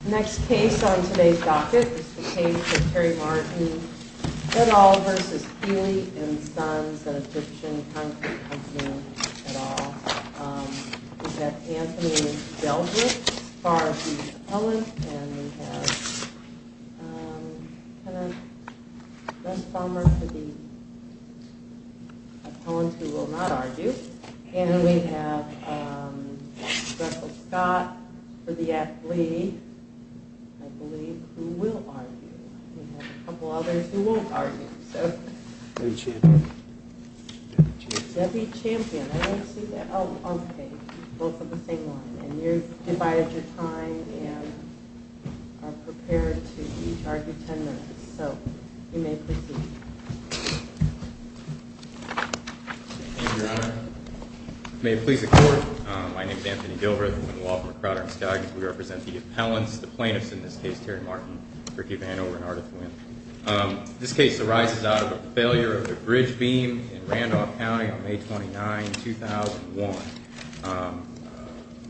The next case on today's docket is the case of Terry Martin, Fedol v. Keeley & Sons, an Egyptian Concrete Company et al. We have Anthony Delbert as far as he's an appellant. And we have Kenneth Westfalmer for the appellant who will not argue. And we have Russell Scott for the athlete, I believe, who will argue. We have a couple others who won't argue. Debbie Champion. Debbie Champion. I don't see that. Oh, on the page. Both on the same line. And you've divided your time and are prepared to each argue ten minutes. So, you may proceed. Thank you, Your Honor. May it please the Court. My name is Anthony Delbert. I'm with the Law Firm of Crowder & Skaggs. We represent the appellants, the plaintiffs in this case, Terry Martin, Ricky Vano, and Ardith Wynn. This case arises out of a failure of a bridge beam in Randolph County on May 29, 2001.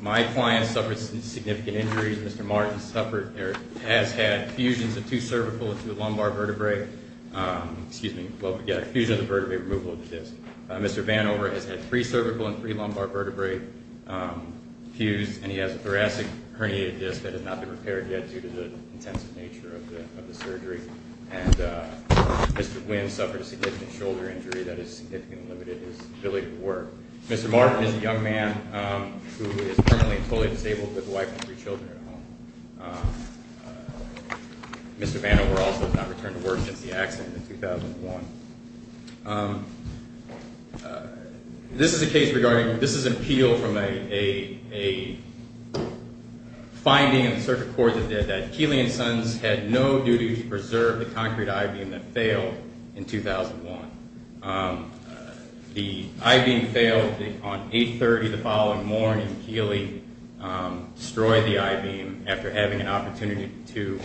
My client suffered some significant injuries. Mr. Martin suffered or has had fusions of two cervical and two lumbar vertebrae. Excuse me, fusion of the vertebrae, removal of the disc. Mr. Vano has had three cervical and three lumbar vertebrae fused, and he has a thoracic herniated disc that has not been repaired yet due to the intensive nature of the surgery. And Mr. Wynn suffered a significant shoulder injury that has significantly limited his ability to work. Mr. Martin is a young man who is permanently and fully disabled with a wife and three children at home. Mr. Vano also has not returned to work since the accident in 2001. This is a case regarding, this is an appeal from a finding in the circuit court that did that. Keely & Sons had no duty to preserve the concrete I-beam that failed in 2001. The I-beam failed on 830 the following morning. Mr. Martin and Keely destroyed the I-beam after having an opportunity to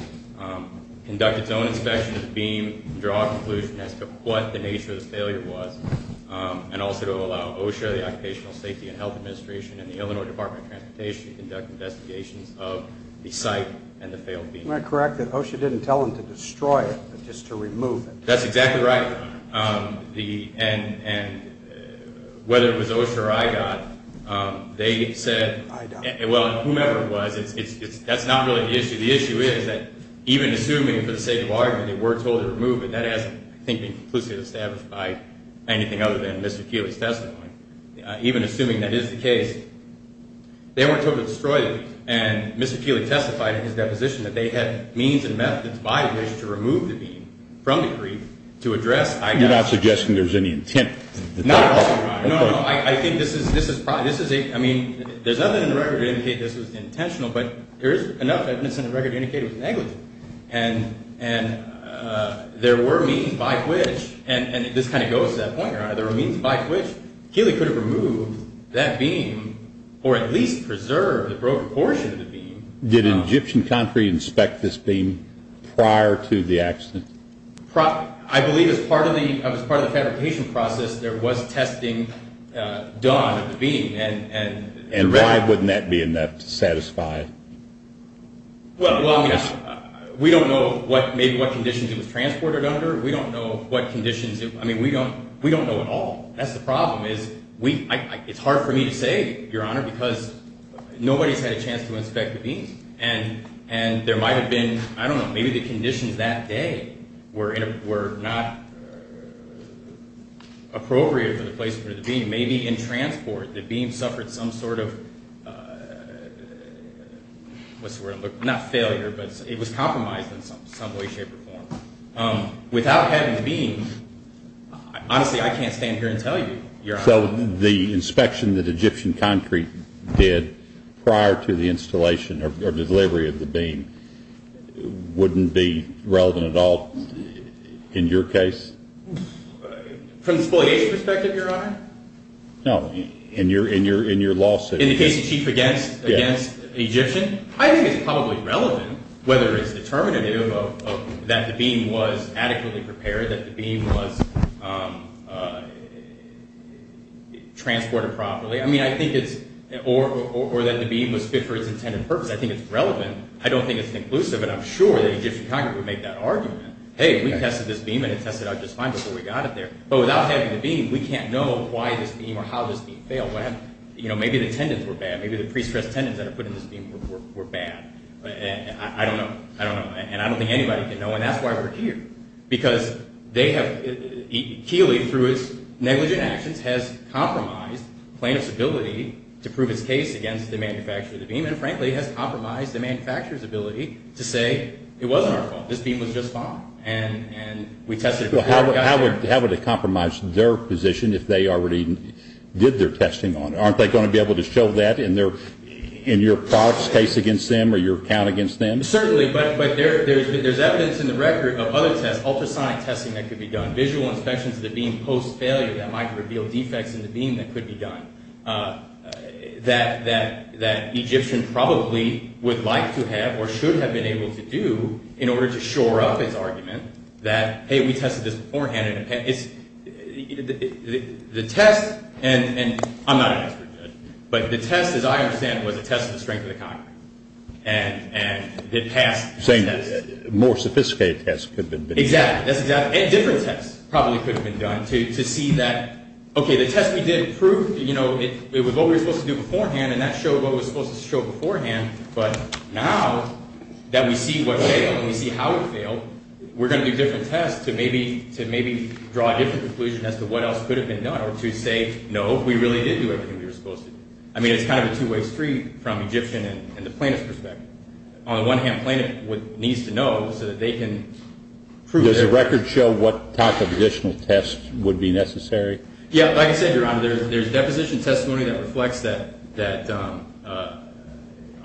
conduct its own inspection of the beam, draw a conclusion as to what the nature of the failure was, and also to allow OSHA, the Occupational Safety and Health Administration, and the Illinois Department of Transportation to conduct investigations of the site and the failed beam. Am I correct that OSHA didn't tell them to destroy it, but just to remove it? That's exactly right. And whether it was OSHA or IGOT, they said, well, whomever it was, that's not really the issue. The issue is that even assuming for the sake of argument they were told to remove it, that hasn't, I think, been conclusively established by anything other than Mr. Keely's testimony. Even assuming that is the case, they weren't told to destroy the beam. And Mr. Keely testified in his deposition that they had means and methods by which to remove the beam from the creek to address I-beam. You're not suggesting there's any intent? Not at all, Your Honor. No, no, no. I think this is a, I mean, there's nothing in the record to indicate this was intentional, but there is enough evidence in the record to indicate it was negligent. And there were means by which, and this kind of goes to that point, Your Honor, there were means by which Keely could have removed that beam or at least preserved the broken portion of the beam. Did an Egyptian concrete inspect this beam prior to the accident? I believe as part of the fabrication process there was testing done of the beam. And why wouldn't that be enough to satisfy? Well, I mean, we don't know maybe what conditions it was transported under. We don't know what conditions, I mean, we don't know at all. That's the problem is it's hard for me to say, Your Honor, because nobody's had a chance to inspect the beams. And there might have been, I don't know, maybe the conditions that day were not appropriate for the placement of the beam. Maybe in transport the beam suffered some sort of, what's the word, not failure, but it was compromised in some way, shape, or form. Without having the beam, honestly, I can't stand here and tell you, Your Honor. So the inspection that Egyptian concrete did prior to the installation or delivery of the beam wouldn't be relevant at all in your case? From the spoliation perspective, Your Honor? No, in your lawsuit. In the case of Chief against Egyptian? I think it's probably relevant, whether it's determinative of that the beam was adequately prepared, that the beam was transported properly, or that the beam was fit for its intended purpose. I think it's relevant. I don't think it's inclusive, and I'm sure the Egyptian concrete would make that argument. Hey, we tested this beam, and it tested out just fine before we got it there. But without having the beam, we can't know why this beam or how this beam failed. Maybe the tendons were bad. Maybe the pre-stressed tendons that are put in this beam were bad. I don't know. And I don't think anybody can know, and that's why we're here. Because they have, Keeley, through its negligent actions, has compromised plaintiff's ability to prove its case against the manufacturer of the beam and, frankly, has compromised the manufacturer's ability to say it wasn't our fault. This beam was just fine, and we tested it before we got there. How would it compromise their position if they already did their testing on it? Aren't they going to be able to show that in your product's case against them or your account against them? Certainly, but there's evidence in the record of other tests, ultrasonic testing that could be done, visual inspections of the beam post-failure that might reveal defects in the beam that could be done, that Egyptians probably would like to have or should have been able to do in order to shore up his argument that, hey, we tested this beforehand. The test, and I'm not an expert, but the test, as I understand it, was a test of the strength of the concrete, and it passed this test. You're saying more sophisticated tests could have been done. Exactly. That's exactly it. And different tests probably could have been done to see that, okay, the test we did proved, you know, it was what we were supposed to do beforehand, and that showed what was supposed to show beforehand, but now that we see what failed and we see how it failed, we're going to do different tests to maybe draw a different conclusion as to what else could have been done or to say, no, we really did do everything we were supposed to do. I mean, it's kind of a two-way street from Egyptian and the plaintiff's perspective. On the one hand, the plaintiff needs to know so that they can prove their argument. Does the record show what type of additional tests would be necessary? Yeah, like I said, Your Honor, there's deposition testimony that reflects that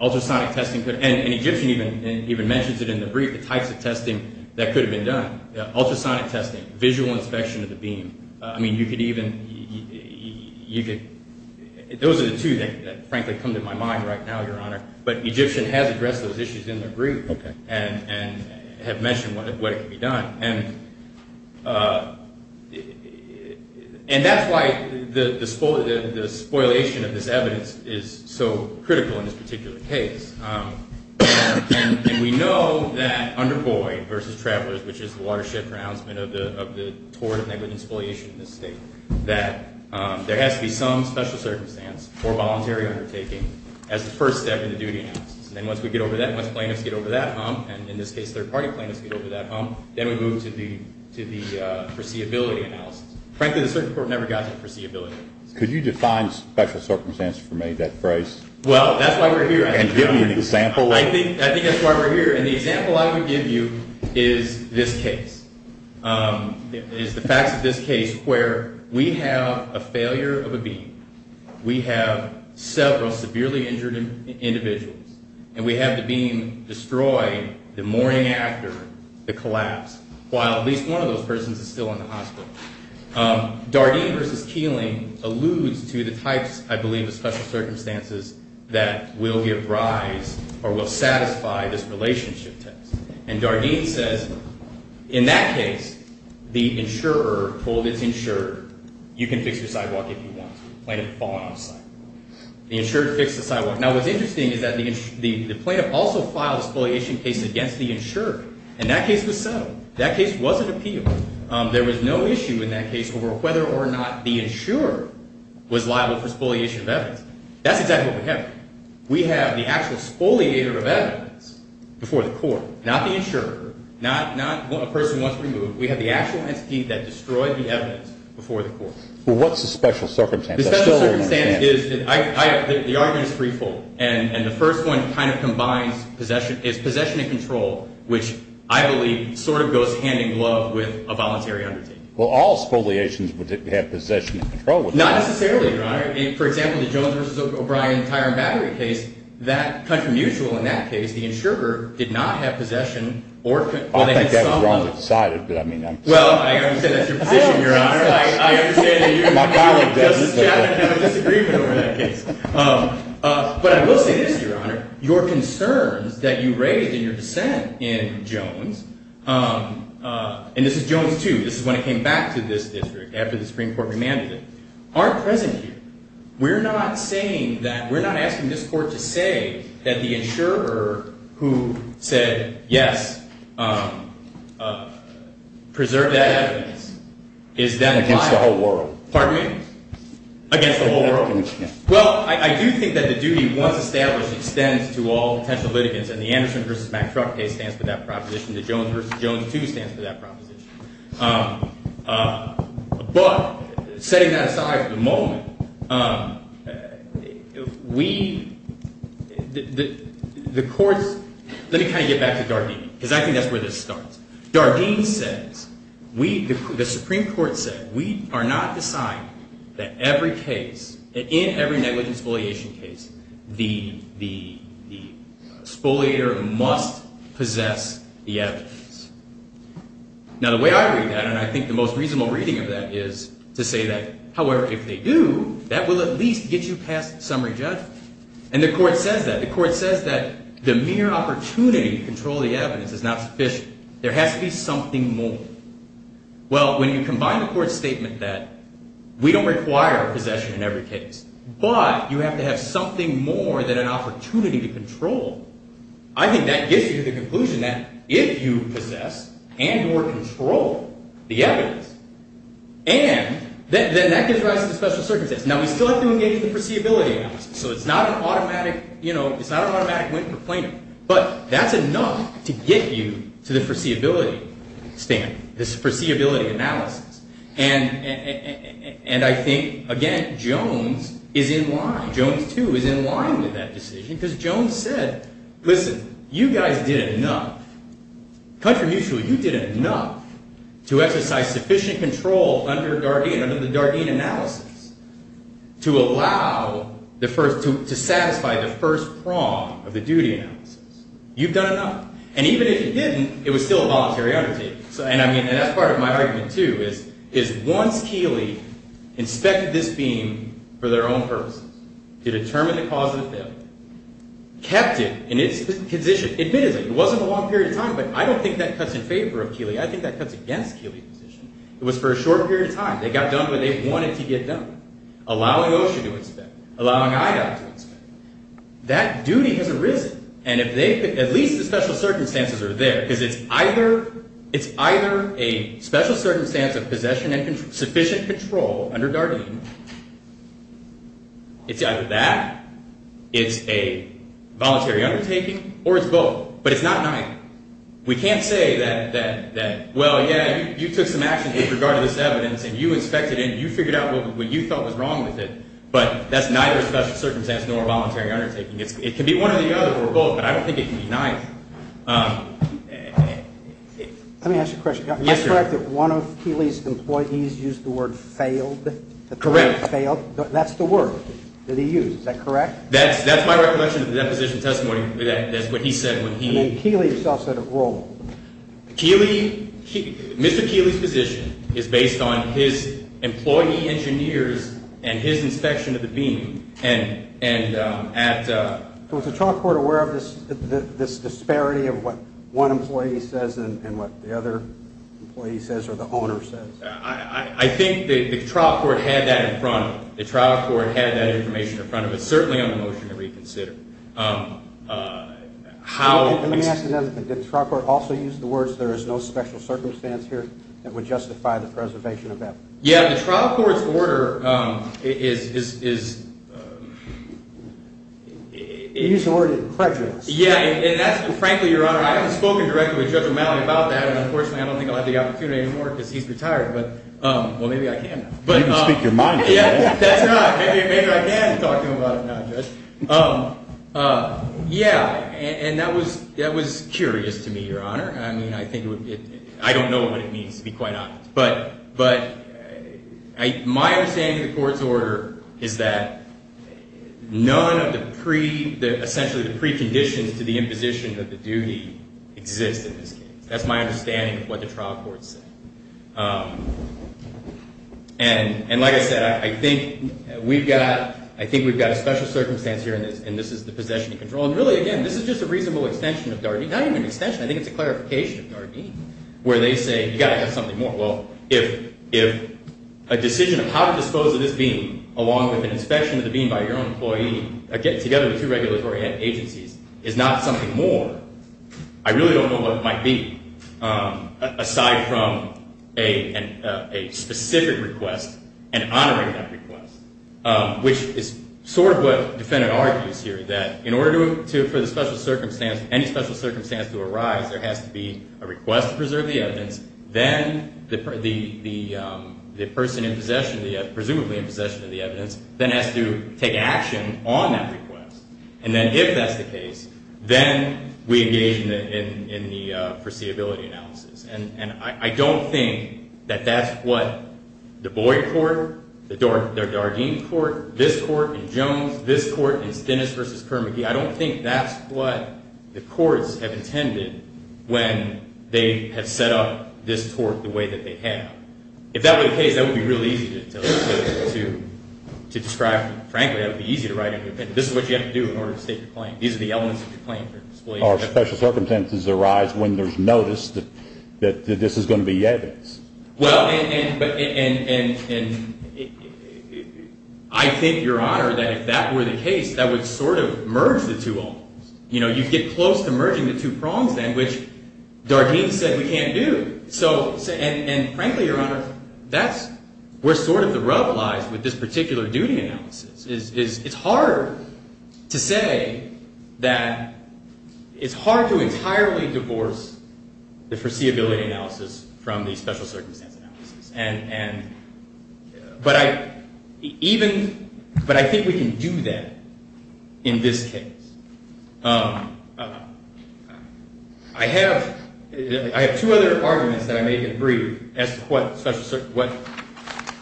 ultrasonic testing could, and Egyptian even mentions it in the brief, the types of testing that could have been done. Ultrasonic testing, visual inspection of the beam. I mean, you could even – those are the two that, frankly, come to my mind right now, Your Honor, but Egyptian has addressed those issues in the brief and have mentioned what could be done. And that's why the spoilation of this evidence is so critical in this particular case. And we know that under Boyd v. Travelers, which is the watershed pronouncement of the tort and negligent spoliation in this state, that there has to be some special circumstance for voluntary undertaking as the first step in the duty analysis. And then once we get over that, once plaintiffs get over that hump, and in this case third-party plaintiffs get over that hump, then we move to the foreseeability analysis. Frankly, the circuit court never got to the foreseeability analysis. Could you define special circumstance for me, that phrase? Well, that's why we're here. And give me an example. I think that's why we're here. And the example I would give you is this case. It is the facts of this case where we have a failure of a beam, we have several severely injured individuals, and we have the beam destroyed the morning after the collapse, while at least one of those persons is still in the hospital. Dardeen v. Keeling alludes to the types, I believe, of special circumstances that will give rise or will satisfy this relationship test. And Dardeen says, in that case, the insurer told its insurer, you can fix your sidewalk if you want to. The plaintiff fallen off the sidewalk. The insurer fixed the sidewalk. Now, what's interesting is that the plaintiff also filed a spoliation case against the insurer, and that case was settled. That case wasn't appealed. There was no issue in that case over whether or not the insurer was liable for spoliation of evidence. That's exactly what we have. We have the actual spoliator of evidence before the court, not the insurer, not a person once removed. We have the actual entity that destroyed the evidence before the court. Well, what's the special circumstance? The special circumstance is the argument is threefold, and the first one kind of combines possession. It's possession and control, which I believe sort of goes hand in glove with a voluntary undertaking. Well, all spoliations have possession and control. Not necessarily, Your Honor. For example, the Jones v. O'Brien tire and battery case, that country mutual in that case, the insurer did not have possession or I think that was wrongly decided, but I mean Well, I understand that's your position, Your Honor. I understand that you and my colleague have a disagreement over that case. But I will say this, Your Honor. Your concerns that you raised in your dissent in Jones, and this is Jones 2, this is when it came back to this district after the Supreme Court remanded it, aren't present here. We're not saying that, we're not asking this court to say that the insurer who said, yes, preserve that evidence is then Against the whole world. Pardon me? Against the whole world. Well, I do think that the duty once established extends to all potential litigants and the Anderson v. Mack truck case stands for that proposition. The Jones v. Jones 2 stands for that proposition. But, setting that aside for the moment, we, the courts, let me kind of get back to Dardenne, because I think that's where this starts. Dardenne says, we, the Supreme Court said, we are not deciding that every case, in every negligent spoliation case, the spoliator must possess the evidence. Now, the way I read that, and I think the most reasonable reading of that is to say that, however, if they do, that will at least get you past summary judgment. And the court says that. The court says that the mere opportunity to control the evidence is not sufficient. There has to be something more. Well, when you combine the court's statement that we don't require possession in every case, but you have to have something more than an opportunity to control, I think that gets you to the conclusion that if you possess and or control the evidence, and then that gives rise to the special circumstances. Now, we still have to engage the foreseeability analysis. So it's not an automatic, you know, it's not an automatic win for Plano. But that's enough to get you to the foreseeability statement, this foreseeability analysis. And I think, again, Jones is in line. Jones, too, is in line with that decision because Jones said, listen, you guys did enough. Contramusually, you did enough to exercise sufficient control under Dardenne, under the Dardenne analysis, to allow the first, to satisfy the first prong of the duty analysis. You've done enough. And even if you didn't, it was still a voluntary undertaking. And I mean, that's part of my argument, too, is once Keeley inspected this beam for their own purposes, to determine the cause of the failure, kept it in its position, admitted that it wasn't a long period of time, but I don't think that cuts in favor of Keeley. I think that cuts against Keeley's position. It was for a short period of time. They got done what they wanted to get done, allowing OSHA to inspect, allowing IDOT to inspect. That duty has arisen. And at least the special circumstances are there because it's either a special circumstance of possession and sufficient control under Dardenne. It's either that, it's a voluntary undertaking, or it's both. But it's not an item. We can't say that, well, yeah, you took some actions with regard to this evidence, and you inspected it, and you figured out what you felt was wrong with it, but that's neither a special circumstance nor a voluntary undertaking. It can be one or the other or both, but I don't think it can be neither. Let me ask you a question. Is it correct that one of Keeley's employees used the word failed? Correct. That's the word that he used. Is that correct? That's my recollection of the deposition testimony. That's what he said. And then Keeley himself said it wrong. Mr. Keeley's position is based on his employee engineers and his inspection of the beam. Was the trial court aware of this disparity of what one employee says and what the other employee says or the owner says? I think the trial court had that in front of them. Certainly on the motion to reconsider. Let me ask another thing. Did the trial court also use the words there is no special circumstance here that would justify the preservation of evidence? Yeah, the trial court's order is – You used the word incredulous. Yeah, and that's frankly, Your Honor, I haven't spoken directly with Judge O'Malley about that, and unfortunately I don't think I'll have the opportunity anymore because he's retired. Well, maybe I can. You can speak your mind. Yeah, that's right. Maybe I can talk to him about it now, Judge. Yeah, and that was curious to me, Your Honor. I mean, I don't know what it means, to be quite honest. But my understanding of the court's order is that none of the – essentially the preconditions to the imposition of the duty exist in this case. That's my understanding of what the trial court said. And like I said, I think we've got a special circumstance here, and this is the possession of control. And really, again, this is just a reasonable extension of Dargene. Not even an extension. I think it's a clarification of Dargene, where they say you've got to have something more. Well, if a decision of how to dispose of this being, along with an inspection of the being by your own employee, together with two regulatory agencies, is not something more, I really don't know what it might be. Aside from a specific request and honoring that request, which is sort of what the defendant argues here, that in order for the special circumstance, any special circumstance to arise, there has to be a request to preserve the evidence. Then the person in possession, presumably in possession of the evidence, then has to take action on that request. And then if that's the case, then we engage in the foreseeability analysis. And I don't think that that's what the Boyd court, their Dargene court, this court in Jones, this court in Stennis v. Kerr-McGee, I don't think that's what the courts have intended when they have set up this court the way that they have. If that were the case, that would be really easy to describe. Frankly, that would be easy to write. This is what you have to do in order to state your claim. These are the elements of your claim. Are special circumstances arise when there's notice that this is going to be evidence? Well, and I think, Your Honor, that if that were the case, that would sort of merge the two almost. You know, you'd get close to merging the two prongs then, which Dargene said we can't do. And frankly, Your Honor, that's where sort of the rub lies with this particular duty analysis. It's hard to say that it's hard to entirely divorce the foreseeability analysis from the special circumstance analysis. But I think we can do that in this case. I have two other arguments that I may agree as to what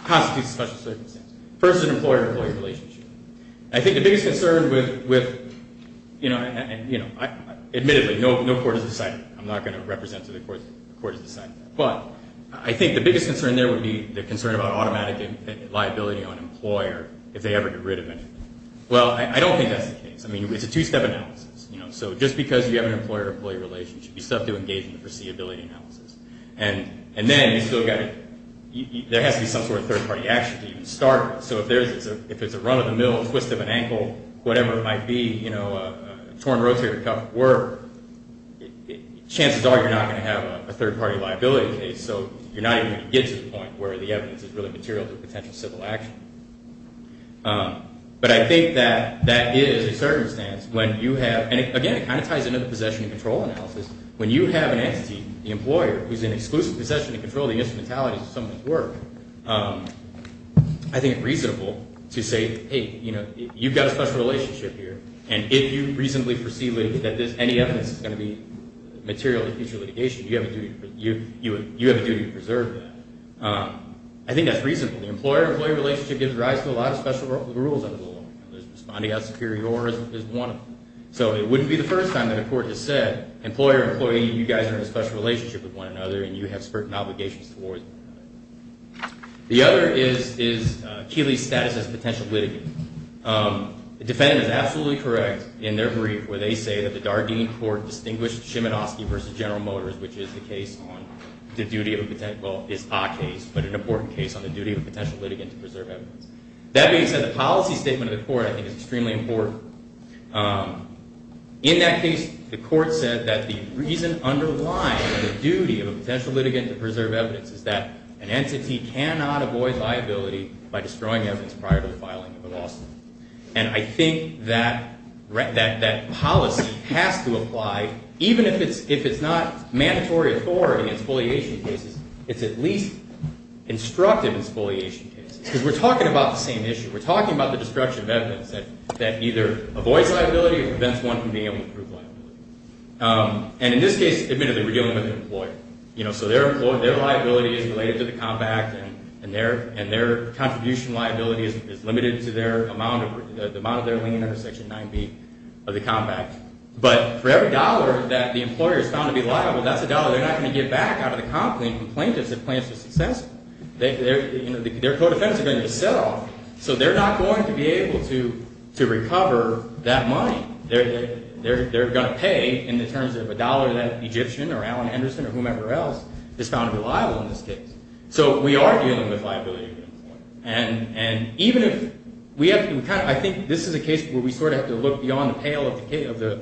constitutes a special circumstance. First, an employer-employee relationship. I think the biggest concern with, you know, admittedly, no court has decided that. I'm not going to represent to the court who has decided that. But I think the biggest concern there would be the concern about automatic liability on an employer if they ever get rid of it. Well, I don't think that's the case. I mean, it's a two-step analysis. You know, so just because you have an employer-employee relationship, you still have to engage in the foreseeability analysis. And then you've still got to – there has to be some sort of third-party action to even start with. So if there's a run of the mill, a twist of an ankle, whatever it might be, you know, a torn rotator cuff work, chances are you're not going to have a third-party liability case. So you're not even going to get to the point where the evidence is really material to a potential civil action. But I think that that is a circumstance when you have – and again, it kind of ties into the possession and control analysis. When you have an entity, the employer, who's in exclusive possession and control of the instrumentalities of someone's work, I think it's reasonable to say, hey, you know, you've got a special relationship here, and if you reasonably foresee that any evidence is going to be material to future litigation, you have a duty to preserve that. I think that's reasonable. The employer-employee relationship gives rise to a lot of special rules under the law. There's responding as superior or as one of them. So it wouldn't be the first time that a court has said, employer, employee, you guys are in a special relationship with one another and you have certain obligations towards one another. The other is Keeley's status as a potential litigant. The defendant is absolutely correct in their brief where they say that the Dardeen Court distinguished Cheminosky v. General Motors, which is the case on the duty of a – well, it's a case, but an important case on the duty of a potential litigant to preserve evidence. That being said, the policy statement of the court, I think, is extremely important. In that case, the court said that the reason underlying the duty of a potential litigant to preserve evidence is that an entity cannot avoid liability by destroying evidence prior to the filing of a lawsuit. And I think that policy has to apply, even if it's not mandatory authority in spoliation cases, it's at least instructive in spoliation cases. Because we're talking about the same issue. We're talking about the destruction of evidence that either avoids liability or prevents one from being able to prove liability. And in this case, admittedly, we're dealing with an employer. So their liability is related to the compact and their contribution liability is limited to the amount of their lien under Section 9B of the compact. But for every dollar that the employer is found to be liable, that's a dollar they're not going to get back out of the complaint if the complaint is successful. Their co-defendants are going to get set off. So they're not going to be able to recover that money. They're going to pay in terms of a dollar that an Egyptian or Alan Anderson or whomever else is found to be liable in this case. So we are dealing with liability. And even if we have to kind of – I think this is a case where we sort of have to look beyond the pale of the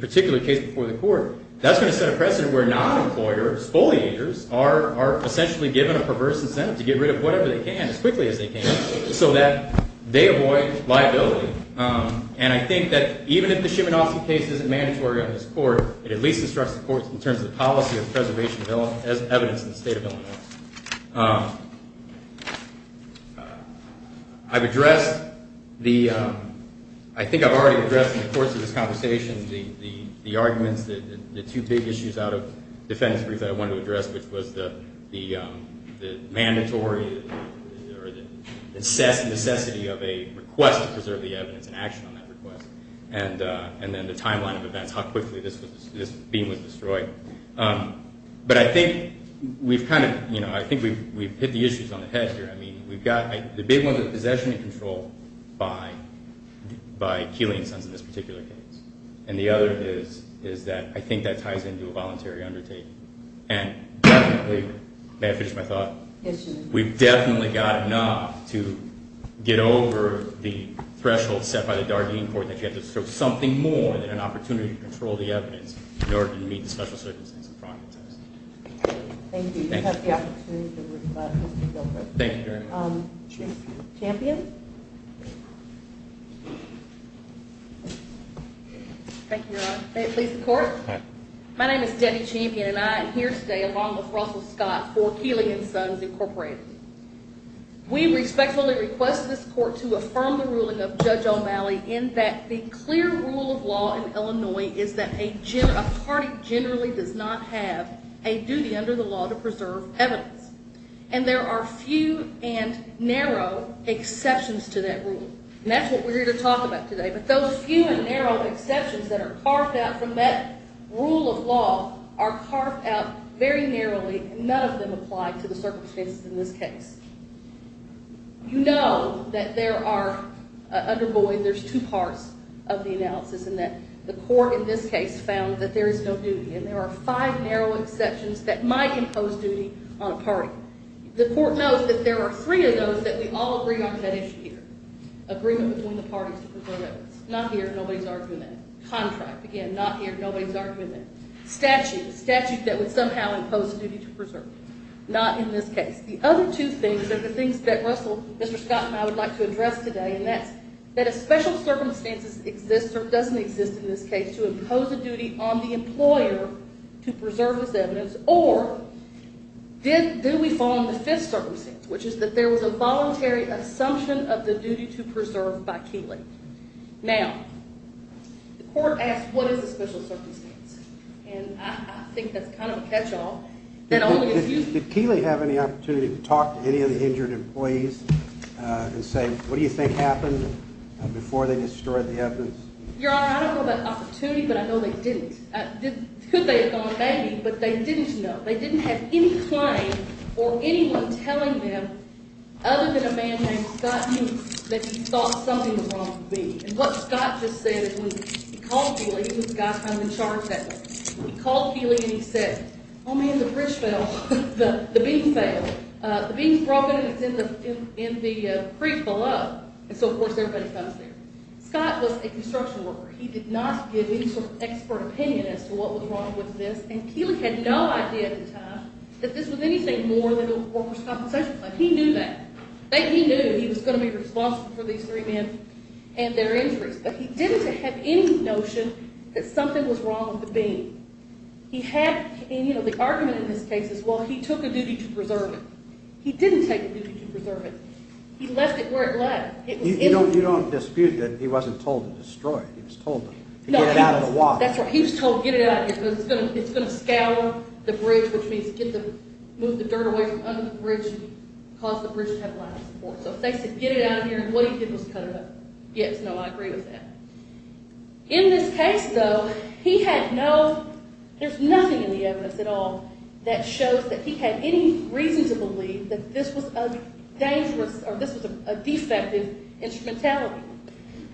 particular case before the court. That's going to set a precedent where non-employers, foliagers, are essentially given a perverse incentive to get rid of whatever they can as quickly as they can so that they avoid liability. And I think that even if the Shimonofsky case isn't mandatory on this court, it at least instructs the courts in terms of the policy of preservation of evidence in the state of Illinois. I've addressed the – I think I've already addressed in the course of this conversation the arguments, the two big issues out of defendant's brief that I wanted to address, which was the mandatory or the necessity of a request to preserve the evidence and action on that request, and then the timeline of events, how quickly this beam was destroyed. But I think we've kind of – I think we've hit the issues on the head here. I mean, we've got – the big one is possession and control by Keeley and Sons in this particular case. And the other is that I think that ties into a voluntary undertaking. And definitely – may I finish my thought? Yes, you may. We've definitely got enough to get over the threshold set by the Dardeen Court that you have to show something more than an opportunity to control the evidence in order to meet the special circumstances of fraud and theft. Thank you. Thank you very much. Champion? Thank you, Your Honor. May it please the Court? My name is Debbie Champion, and I am here today along with Russell Scott for Keeley and Sons Incorporated. We respectfully request this Court to affirm the ruling of Judge O'Malley in that the clear rule of law in Illinois is that a party generally does not have a duty under the law to preserve evidence. And there are few and narrow exceptions to that rule. And that's what we're here to talk about today. But those few and narrow exceptions that are carved out from that rule of law are carved out very narrowly. None of them apply to the circumstances in this case. You know that there are – under Boyd, there's two parts of the analysis in that the Court in this case found that there is no duty. And there are five narrow exceptions that might impose duty on a party. The Court knows that there are three of those that we all agree on that issue here. Agreement between the parties to preserve evidence. Not here. Nobody's arguing that. Contract. Again, not here. Nobody's arguing that. Statute. Statute that would somehow impose a duty to preserve evidence. Not in this case. The other two things are the things that Russell, Mr. Scott, and I would like to address today, and that's that a special circumstances exists or doesn't exist in this case to impose a duty on the employer to preserve this evidence, or do we fall into the fifth circumstance, which is that there was a voluntary assumption of the duty to preserve by Keeley. Now, the Court asked what is a special circumstance. And I think that's kind of a catch-all. Did Keeley have any opportunity to talk to any of the injured employees Your Honor, I don't know about opportunity, but I know they didn't. Could they have gone, maybe, but they didn't know. They didn't have any claim or anyone telling them other than a man named Scott knew that he thought something was wrong with me. And what Scott just said is when he called Keeley, he was the guy in charge of that. He called Keeley and he said, oh, man, the bridge fell. The beam fell. The beam's broken and it's in the creek below. And so, of course, everybody fell through. Scott was a construction worker. He did not give any sort of expert opinion as to what was wrong with this. And Keeley had no idea at the time that this was anything more than a workers' compensation claim. He knew that. He knew he was going to be responsible for these three men and their injuries. But he didn't have any notion that something was wrong with the beam. He had, you know, the argument in this case is, well, he took a duty to preserve it. He didn't take a duty to preserve it. He left it where it left. You don't dispute that he wasn't told to destroy it. He was told to get it out of the water. That's right. He was told to get it out of here because it's going to scour the bridge, which means move the dirt away from under the bridge and cause the bridge to have a lack of support. So if they said get it out of here, what he did was cut it up. Yes, no, I agree with that. In this case, though, he had no, there's nothing in the evidence at all that shows that he had any reason to believe that this was a dangerous or this was a defective instrumentality.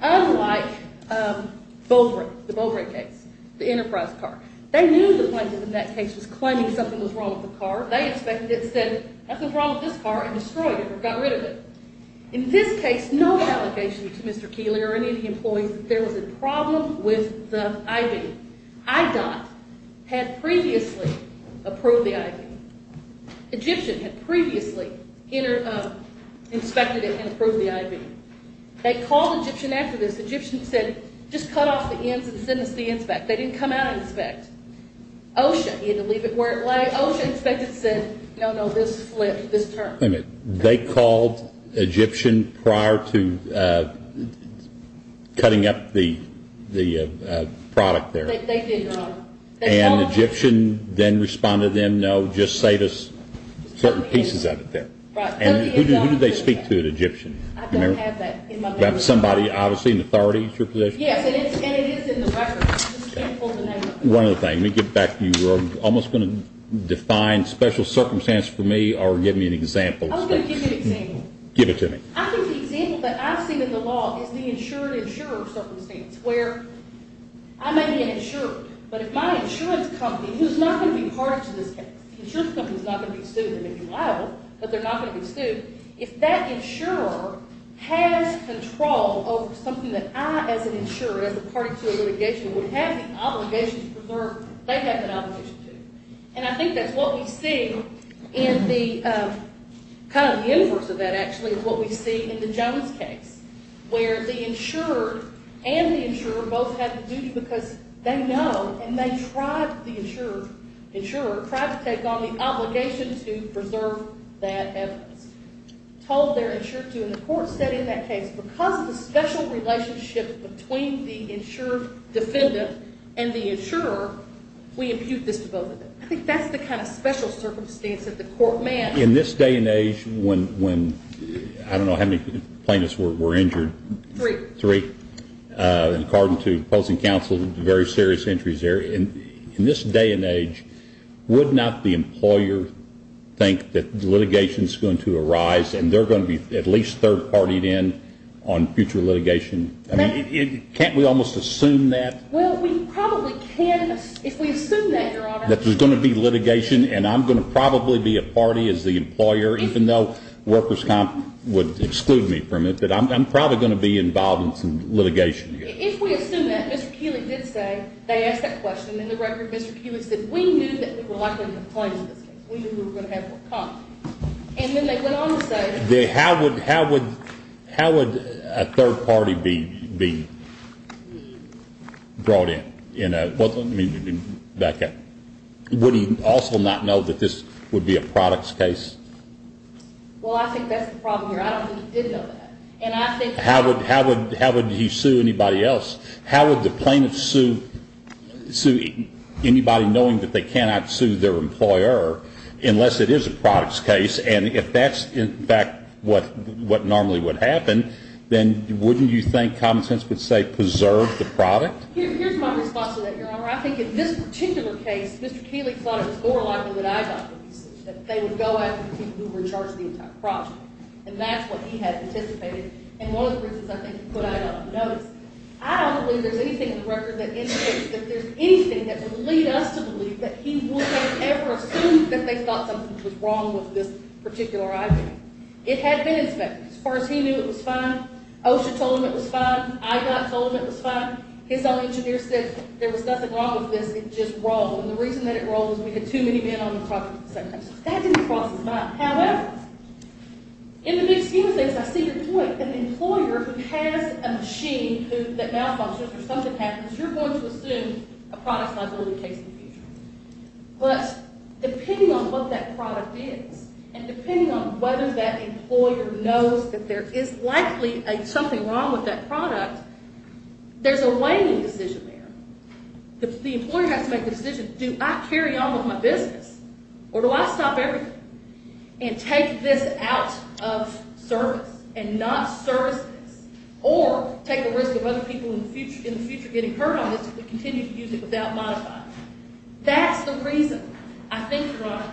Unlike Bowbray, the Bowbray case, the Enterprise car. They knew the plaintiff in that case was claiming something was wrong with the car. They inspected it, said nothing's wrong with this car, and destroyed it or got rid of it. In this case, no allegation to Mr. Keeley or any of the employees that there was a problem with the I-beam. IDOT had previously approved the I-beam. Egyptian had previously inspected it and approved the I-beam. They called Egyptian after this. Egyptian said just cut off the ends and send us the inspect. They didn't come out and inspect. OSHA, he had to leave it where it lay. OSHA inspected it and said, no, no, this flipped, this turned. They called Egyptian prior to cutting up the product there. They did, Your Honor. And Egyptian then responded, no, just save us certain pieces of it there. And who did they speak to at Egyptian? I don't have that in my record. Somebody, obviously, an authority is your position? Yes, and it is in the record. I just can't pull the name up. One other thing. Let me get back. You were almost going to define special circumstance for me or give me an example. I was going to give you an example. Give it to me. I think the example that I've seen in the law is the insured insurer circumstance, where I may be an insurer, but if my insurance company, who is not going to be part of this case, the insurance company is not going to be sued, they may be liable, but they're not going to be sued. If that insurer has control over something that I, as an insurer, as a party to a litigation, would have the obligation to preserve, they have that obligation, too. And I think that's what we see in the kind of inverse of that, actually, of what we see in the Jones case, where the insurer and the insurer both have the duty because they know and they tried to take on the obligation to preserve that evidence. Told their insurer to, and the court said in that case, because of the special relationship between the insured defendant and the insurer, we impute this to both of them. I think that's the kind of special circumstance that the court managed. In this day and age when, I don't know how many plaintiffs were injured? Three. Three. According to opposing counsel, very serious injuries there. In this day and age, would not the employer think that litigation is going to arise and they're going to be at least third-partied in on future litigation? Can't we almost assume that? Well, we probably can if we assume that, Your Honor. That there's going to be litigation, and I'm going to probably be a party as the employer, even though workers' comp would exclude me from it, but I'm probably going to be involved in some litigation here. If we assume that, Mr. Kewitt did say, they asked that question, and the record, Mr. Kewitt said, we knew that we were likely to have a plaintiff in this case. We knew we were going to have a comp. And then they went on to say... How would a third party be brought in? Would he also not know that this would be a products case? Well, I think that's the problem here. I don't think he did know that. How would he sue anybody else? How would the plaintiff sue anybody knowing that they cannot sue their employer unless it is a products case? And if that's, in fact, what normally would happen, then wouldn't you think common sense would say preserve the product? Here's my response to that, Your Honor. I think in this particular case, Mr. Kewitt thought it was more likely that I got the decision, that they would go after the people who were in charge of the entire project. And that's what he had anticipated. And one of the reasons I think he put I got the notice, I don't believe there's anything in the record that indicates that there's anything that would lead us to believe that he would have ever assumed that they thought something was wrong with this particular item. It had been inspected. As far as he knew, it was fine. OSHA told him it was fine. I got told it was fine. His own engineer said there was nothing wrong with this. It just rolled. And the reason that it rolled was we had too many men on the project at the same time. So that didn't cross his mind. However, in the big scheme of things, I see your point. An employer who has a machine that malfunctions or something happens, you're going to assume a products liability case in the future. But depending on what that product is and depending on whether that employer knows that there is likely something wrong with that product, there's a weighing decision there. The employer has to make the decision, do I carry on with my business or do I stop everything and take this out of service and not service this or take the risk of other people in the future getting hurt on this if we continue to use it without modifying it. That's the reason I think, Your Honor,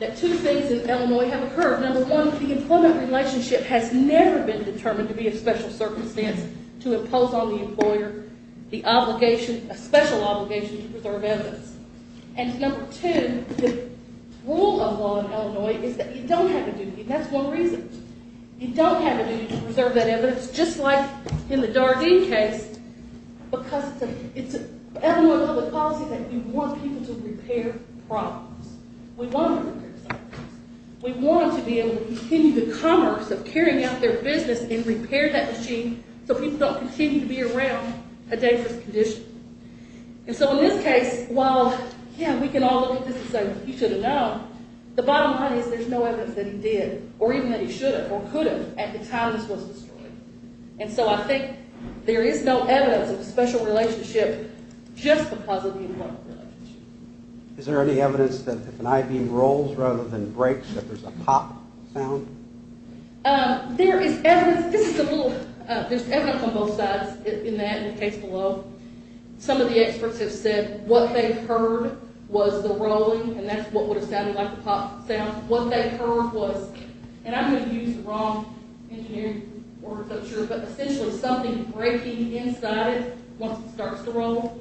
that two things in Illinois have occurred. Number one, the employment relationship has never been determined to be a special circumstance to impose on the employer the obligation, a special obligation to preserve evidence. And number two, the rule of law in Illinois is that you don't have a duty. That's one reason. You don't have a duty to preserve that evidence, just like in the Dardeen case, because it's an Illinois public policy that we want people to repair problems. We want them to repair problems. We want them to be able to continue the commerce of carrying out their business and repair that machine so people don't continue to be around a dangerous condition. And so in this case, while, yeah, we can all look at this and say, he should have known, the bottom line is there's no evidence that he did or even that he should have or could have at the time this was destroyed. And so I think there is no evidence of a special relationship just because of the employment relationship. Is there any evidence that if an I-beam rolls rather than breaks, that there's a pop sound? There is evidence. This is a little, there's evidence on both sides in that and the case below. Some of the experts have said what they heard was the rolling, and that's what would have sounded like a pop sound. What they heard was, and I'm going to use the wrong engineering word, I'm not sure, but essentially something breaking inside it once it starts to roll,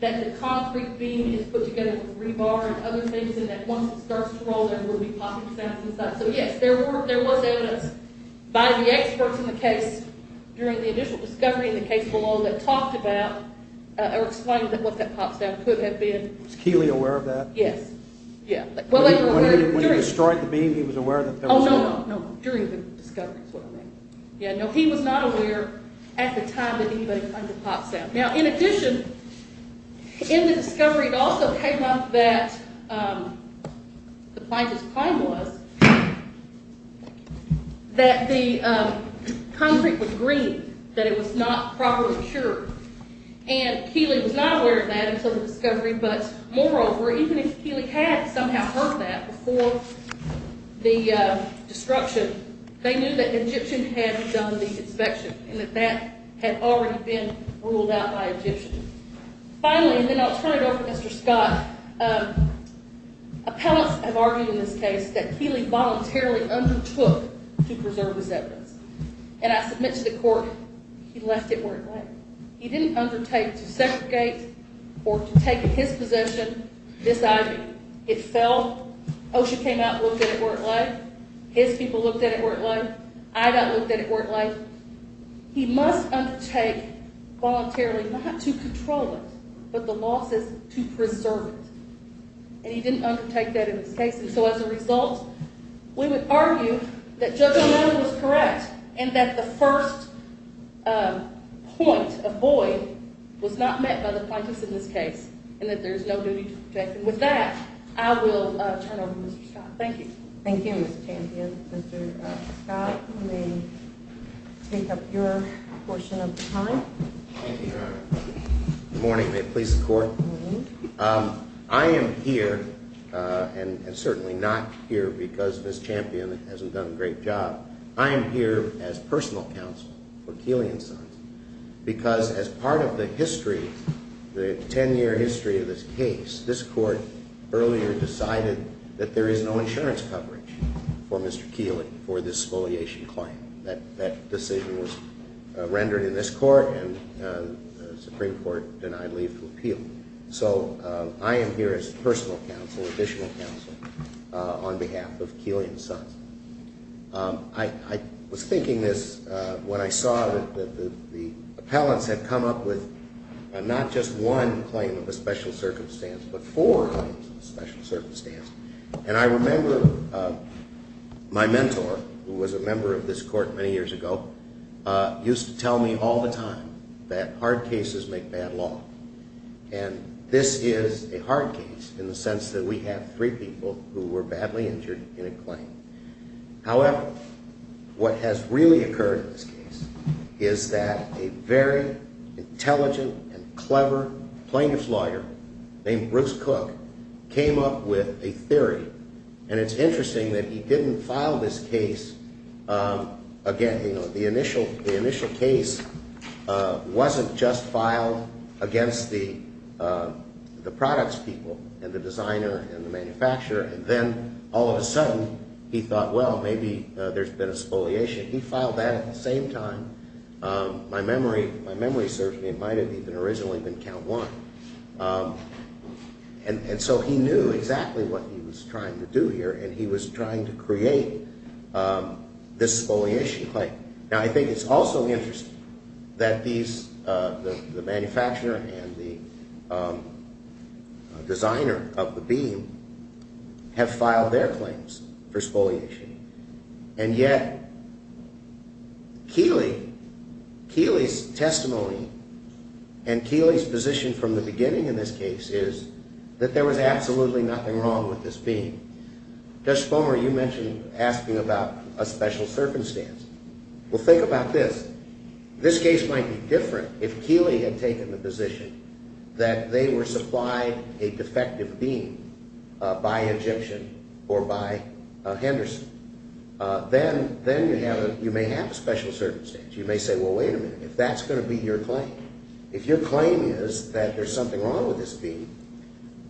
that the concrete beam is put together with rebar and other things, and that once it starts to roll, there will be popping sounds inside. So, yes, there was evidence by the experts in the case during the initial discovery in the case below that talked about or explained what that pop sound could have been. Was Keeley aware of that? Yes. Yeah. When he destroyed the beam, he was aware that there was a pop sound? Oh, no, no, during the discovery is what I meant. Yeah, no, he was not aware at the time that he heard the pop sound. Now, in addition, in the discovery, it also came up that the plaintiff's claim was that the concrete was green, that it was not properly cured, and Keeley was not aware of that until the discovery, but moreover, even if Keeley had somehow heard that before the destruction, they knew that the Egyptian had done the inspection and that that had already been ruled out by Egyptians. Finally, and then I'll turn it over to Mr. Scott, appellants have argued in this case that Keeley voluntarily undertook to preserve this evidence, and I submit to the court he left it where it lay. He didn't undertake to segregate or to take his possession, this ivy. It fell. OSHA came out and looked at it where it lay. His people looked at it where it lay. I got looked at it where it lay. He must undertake voluntarily not to control it, but the law says to preserve it, and he didn't undertake that in this case. And so as a result, we would argue that Judge O'Malley was correct and that the first point of void was not met by the plaintiffs in this case and that there's no duty to protect them. With that, I will turn it over to Mr. Scott. Thank you. Thank you, Ms. Champion. Mr. Scott, you may take up your portion of the time. Thank you, Your Honor. Good morning. May it please the Court? Good morning. I am here and certainly not here because Ms. Champion hasn't done a great job. I am here as personal counsel for Keeley and Sons because as part of the history, the ten-year history of this case, this Court earlier decided that there is no insurance coverage for Mr. Keeley for this exfoliation claim. That decision was rendered in this Court, and the Supreme Court denied leave to appeal. So I am here as personal counsel, additional counsel, on behalf of Keeley and Sons. I was thinking this when I saw that the appellants had come up with not just one claim of a special circumstance but four claims of a special circumstance. And I remember my mentor, who was a member of this Court many years ago, used to tell me all the time that hard cases make bad law. And this is a hard case in the sense that we have three people who were badly injured in a claim. However, what has really occurred in this case is that a very intelligent and clever plaintiff's lawyer named Bruce Cook came up with a theory. And it's interesting that he didn't file this case. Again, you know, the initial case wasn't just filed against the products people and the designer and the manufacturer. And then all of a sudden he thought, well, maybe there's been exfoliation. He filed that at the same time. My memory serves me. It might have even originally been count one. And so he knew exactly what he was trying to do here, and he was trying to create this exfoliation claim. Now, I think it's also interesting that the manufacturer and the designer of the beam have filed their claims for exfoliation. And yet, Keeley's testimony and Keeley's position from the beginning in this case is that there was absolutely nothing wrong with this beam. Judge Spomer, you mentioned asking about a special circumstance. Well, think about this. This case might be different if Keeley had taken the position that they were supplied a defective beam by Egyptian or by Henderson. Then you may have a special circumstance. You may say, well, wait a minute. If that's going to be your claim, if your claim is that there's something wrong with this beam,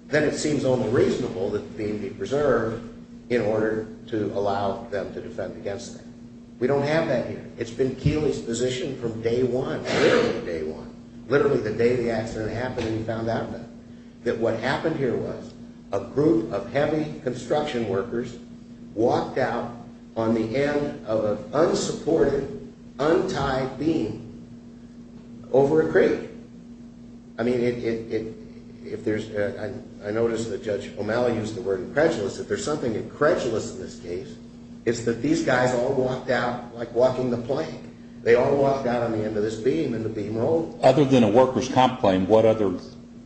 then it seems almost reasonable that the beam be preserved in order to allow them to defend against it. We don't have that here. It's been Keeley's position from day one, literally day one, literally the day the accident happened and he found out about it, that what happened here was a group of heavy construction workers walked out on the end of an unsupported, untied beam over a creek. I mean, I noticed that Judge O'Malley used the word incredulous. If there's something incredulous in this case, it's that these guys all walked out like walking the plank. They all walked out on the end of this beam and the beam rolled. Other than a worker's comp claim, what other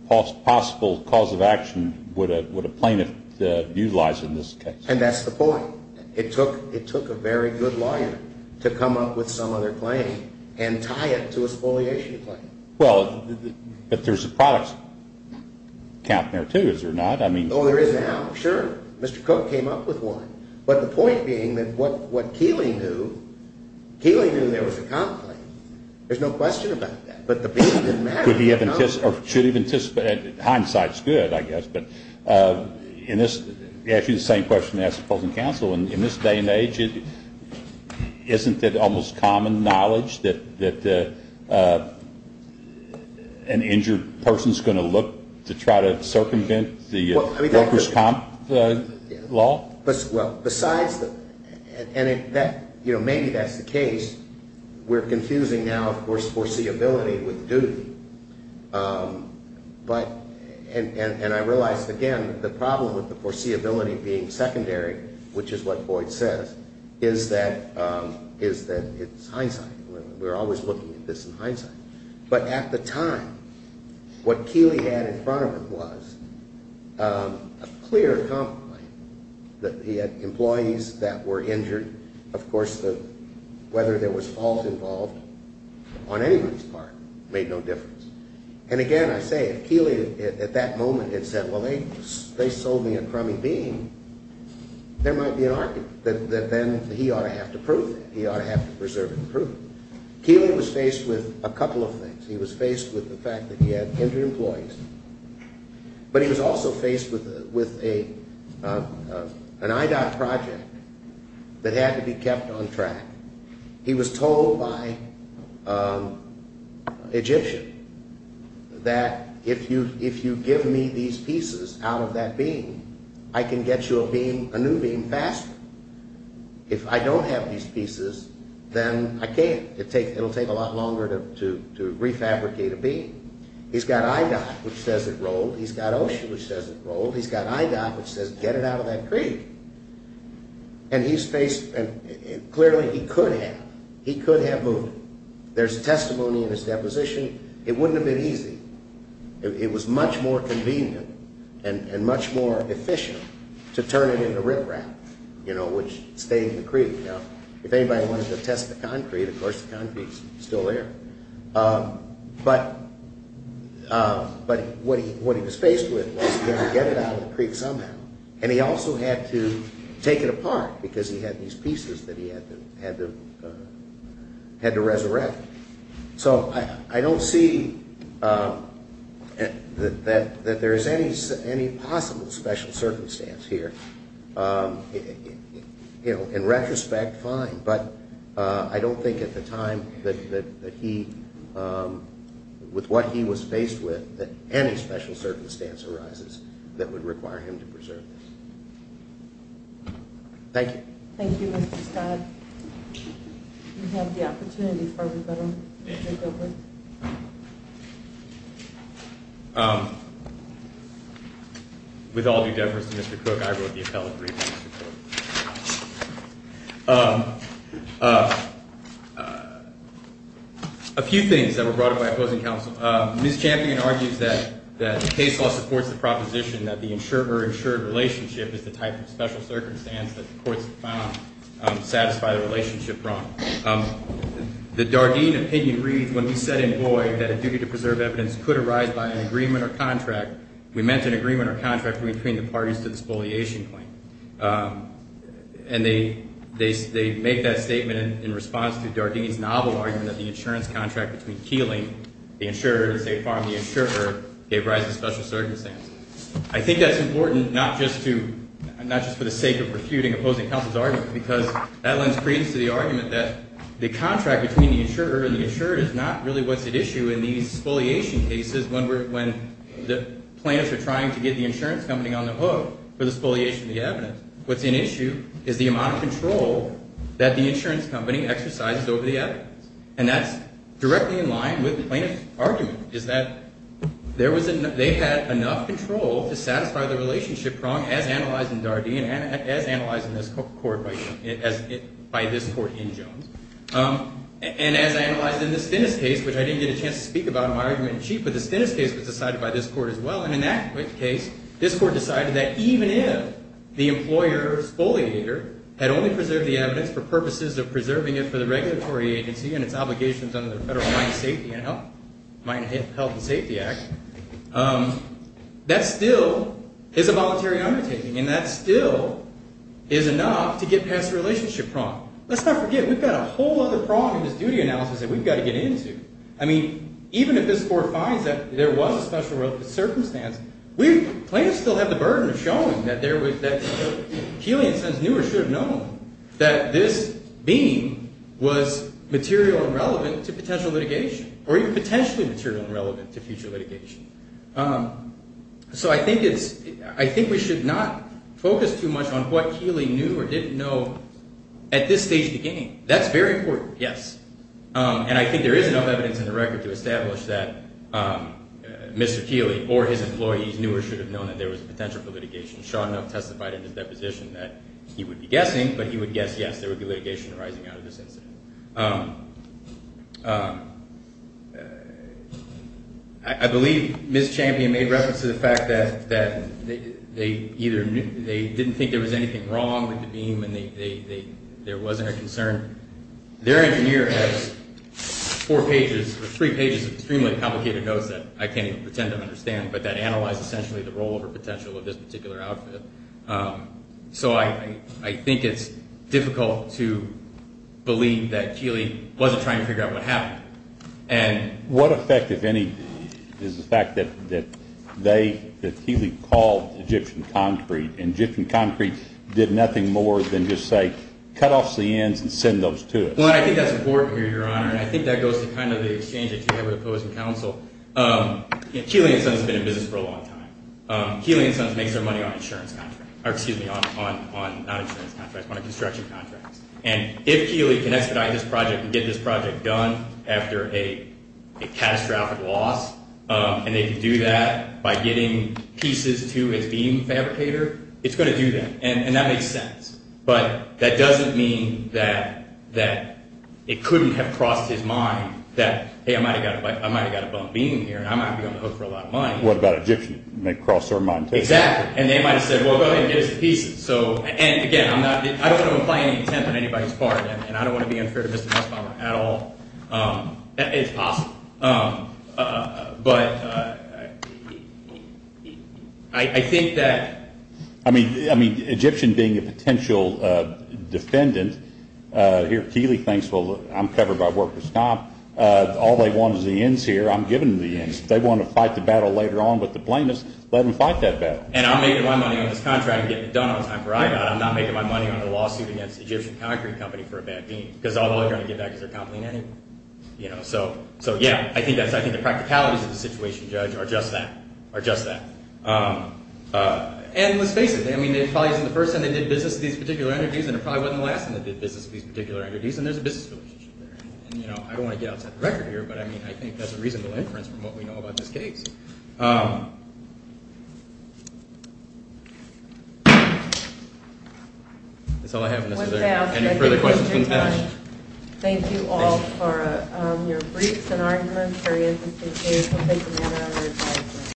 possible cause of action would a plaintiff utilize in this case? And that's the point. It took a very good lawyer to come up with some other claim and tie it to a spoliation claim. Well, but there's a product count there, too, is there not? Oh, there is now, sure. Mr. Cook came up with one. But the point being that what Keeley knew, Keeley knew there was a comp claim. There's no question about that. But the beam didn't matter. Should he have anticipated it? Hindsight's good, I guess. But to ask you the same question and ask opposing counsel, in this day and age, isn't it almost common knowledge that an injured person's going to look to try to circumvent the worker's comp law? Well, besides that, and maybe that's the case, we're confusing now, of course, foreseeability with duty. And I realize, again, the problem with the foreseeability being secondary, which is what Boyd says, is that it's hindsight. We're always looking at this in hindsight. But at the time, what Keeley had in front of him was a clear comp claim, that he had employees that were injured. Of course, whether there was fault involved on anybody's part made no difference. And again, I say, if Keeley at that moment had said, well, they sold me a crummy beam, there might be an argument that then he ought to have to prove it. He ought to have to preserve it and prove it. Keeley was faced with a couple of things. He was faced with the fact that he had injured employees, but he was also faced with an IDOT project that had to be kept on track. He was told by an Egyptian that if you give me these pieces out of that beam, I can get you a new beam faster. If I don't have these pieces, then I can't. It will take a lot longer to refabricate a beam. He's got IDOT, which says it rolled. He's got OSHA, which says it rolled. He's got IDOT, which says get it out of that creek. Clearly, he could have. He could have moved it. There's testimony in his deposition. It wouldn't have been easy. It was much more convenient and much more efficient to turn it into riprap, which stayed in the creek. If anybody wanted to test the concrete, of course, the concrete's still there. But what he was faced with was he had to get it out of the creek somehow. He also had to take it apart because he had these pieces that he had to resurrect. I don't see that there is any possible special circumstance here. In retrospect, fine. But I don't think at the time that he, with what he was faced with, that any special circumstance arises that would require him to preserve this. Thank you. Thank you, Mr. Scott. You have the opportunity for rebuttal, Mr. Gilbert. With all due deference to Mr. Cook, I wrote the appellate brief. A few things that were brought up by opposing counsel. Ms. Champion argues that the case law supports the proposition that the insurer-insured relationship is the type of special circumstance that the courts have found satisfy the relationship wrong. The Dardeen opinion reads, when we said in Boyd that a duty to preserve evidence could arise by an agreement or contract, we meant an agreement or contract between the parties to the spoliation claim. And they make that statement in response to Dardeen's novel argument that the insurance contract between Keeling, the insurer, and State Farm, the insurer, gave rise to special circumstances. I think that's important, not just for the sake of refuting opposing counsel's argument, because that lends credence to the argument that the contract between the insurer and the insured is not really what's at issue in these spoliation cases when the plaintiffs are trying to get the insurance company on the hook for the spoliation of the evidence. What's at issue is the amount of control that the insurance company exercises over the evidence. And that's directly in line with the plaintiff's argument, is that they had enough control to satisfy the relationship wrong, as analyzed in Dardeen and as analyzed in this court, by this court in Jones. And as analyzed in the Stennis case, which I didn't get a chance to speak about in my argument in chief, but the Stennis case was decided by this court as well. And in that case, this court decided that even if the employer spoliator had only preserved the evidence for purposes of preserving it for the regulatory agency and its obligations under the Federal Mine Safety and Health, Mine Health and Safety Act, that still is a voluntary undertaking. And that still is enough to get past the relationship problem. Let's not forget, we've got a whole other problem in this duty analysis that we've got to get into. I mean, even if this court finds that there was a special circumstance, plaintiffs still have the burden of showing that Keeley, in a sense, knew or should have known that this beam was material and relevant to potential litigation, or even potentially material and relevant to future litigation. So I think we should not focus too much on what Keeley knew or didn't know at this stage of the game. That's very important, yes. And I think there is enough evidence in the record to establish that Mr. Keeley or his employees knew or should have known that there was a potential for litigation. Shaw enough testified in his deposition that he would be guessing, but he would guess yes, there would be litigation arising out of this incident. I believe Ms. Champion made reference to the fact that they either didn't think there was anything wrong with the beam and there wasn't a concern. Their engineer has three pages of extremely complicated notes that I can't even pretend to understand, but that analyze essentially the rollover potential of this particular outfit. So I think it's difficult to believe that Keeley wasn't trying to figure out what happened. What effect, if any, is the fact that Keeley called Egyptian Concrete and Egyptian Concrete did nothing more than just say, cut off the ends and send those to us? Well, I think that's important here, Your Honor, and I think that goes to kind of the exchange that you had with the opposing counsel. Keeley and Sons has been in business for a long time. Keeley and Sons makes their money on construction contracts. And if Keeley can expedite this project and get this project done after a catastrophic loss, and they can do that by getting pieces to his beam fabricator, it's going to do that. And that makes sense. But that doesn't mean that it couldn't have crossed his mind that, hey, I might have got a bump beam here and I might be on the hook for a lot of money. What about Egyptian? It may cross their mind, too. Exactly. And they might have said, well, go ahead and get us the pieces. And, again, I don't want to imply any intent on anybody's part, and I don't want to be unfair to Mr. Westphalmer at all. It's possible. But I think that – I mean, Egyptian being a potential defendant here, Keeley thinks, well, I'm covered by workers' comp. All they want is the ends here. I'm giving them the ends. If they want to fight the battle later on with the plaintiffs, let them fight that battle. And I'm making my money on this contract and getting it done on time for IBOT. I'm not making my money on the lawsuit against Egyptian Concrete Company for a bad beam, because all they're going to get back is their comp lien anyway. So, yeah, I think the practicalities of the situation, Judge, are just that. And let's face it, I mean, it probably isn't the first time they did business with these particular entities, and it probably wasn't the last time they did business with these particular entities, and there's a business relationship there. And, you know, I don't want to get outside the record here, but, I mean, I think that's a reasonable inference from what we know about this case. That's all I have on this. Any further questions, please ask. Thank you all for your briefs and arguments. Thank you.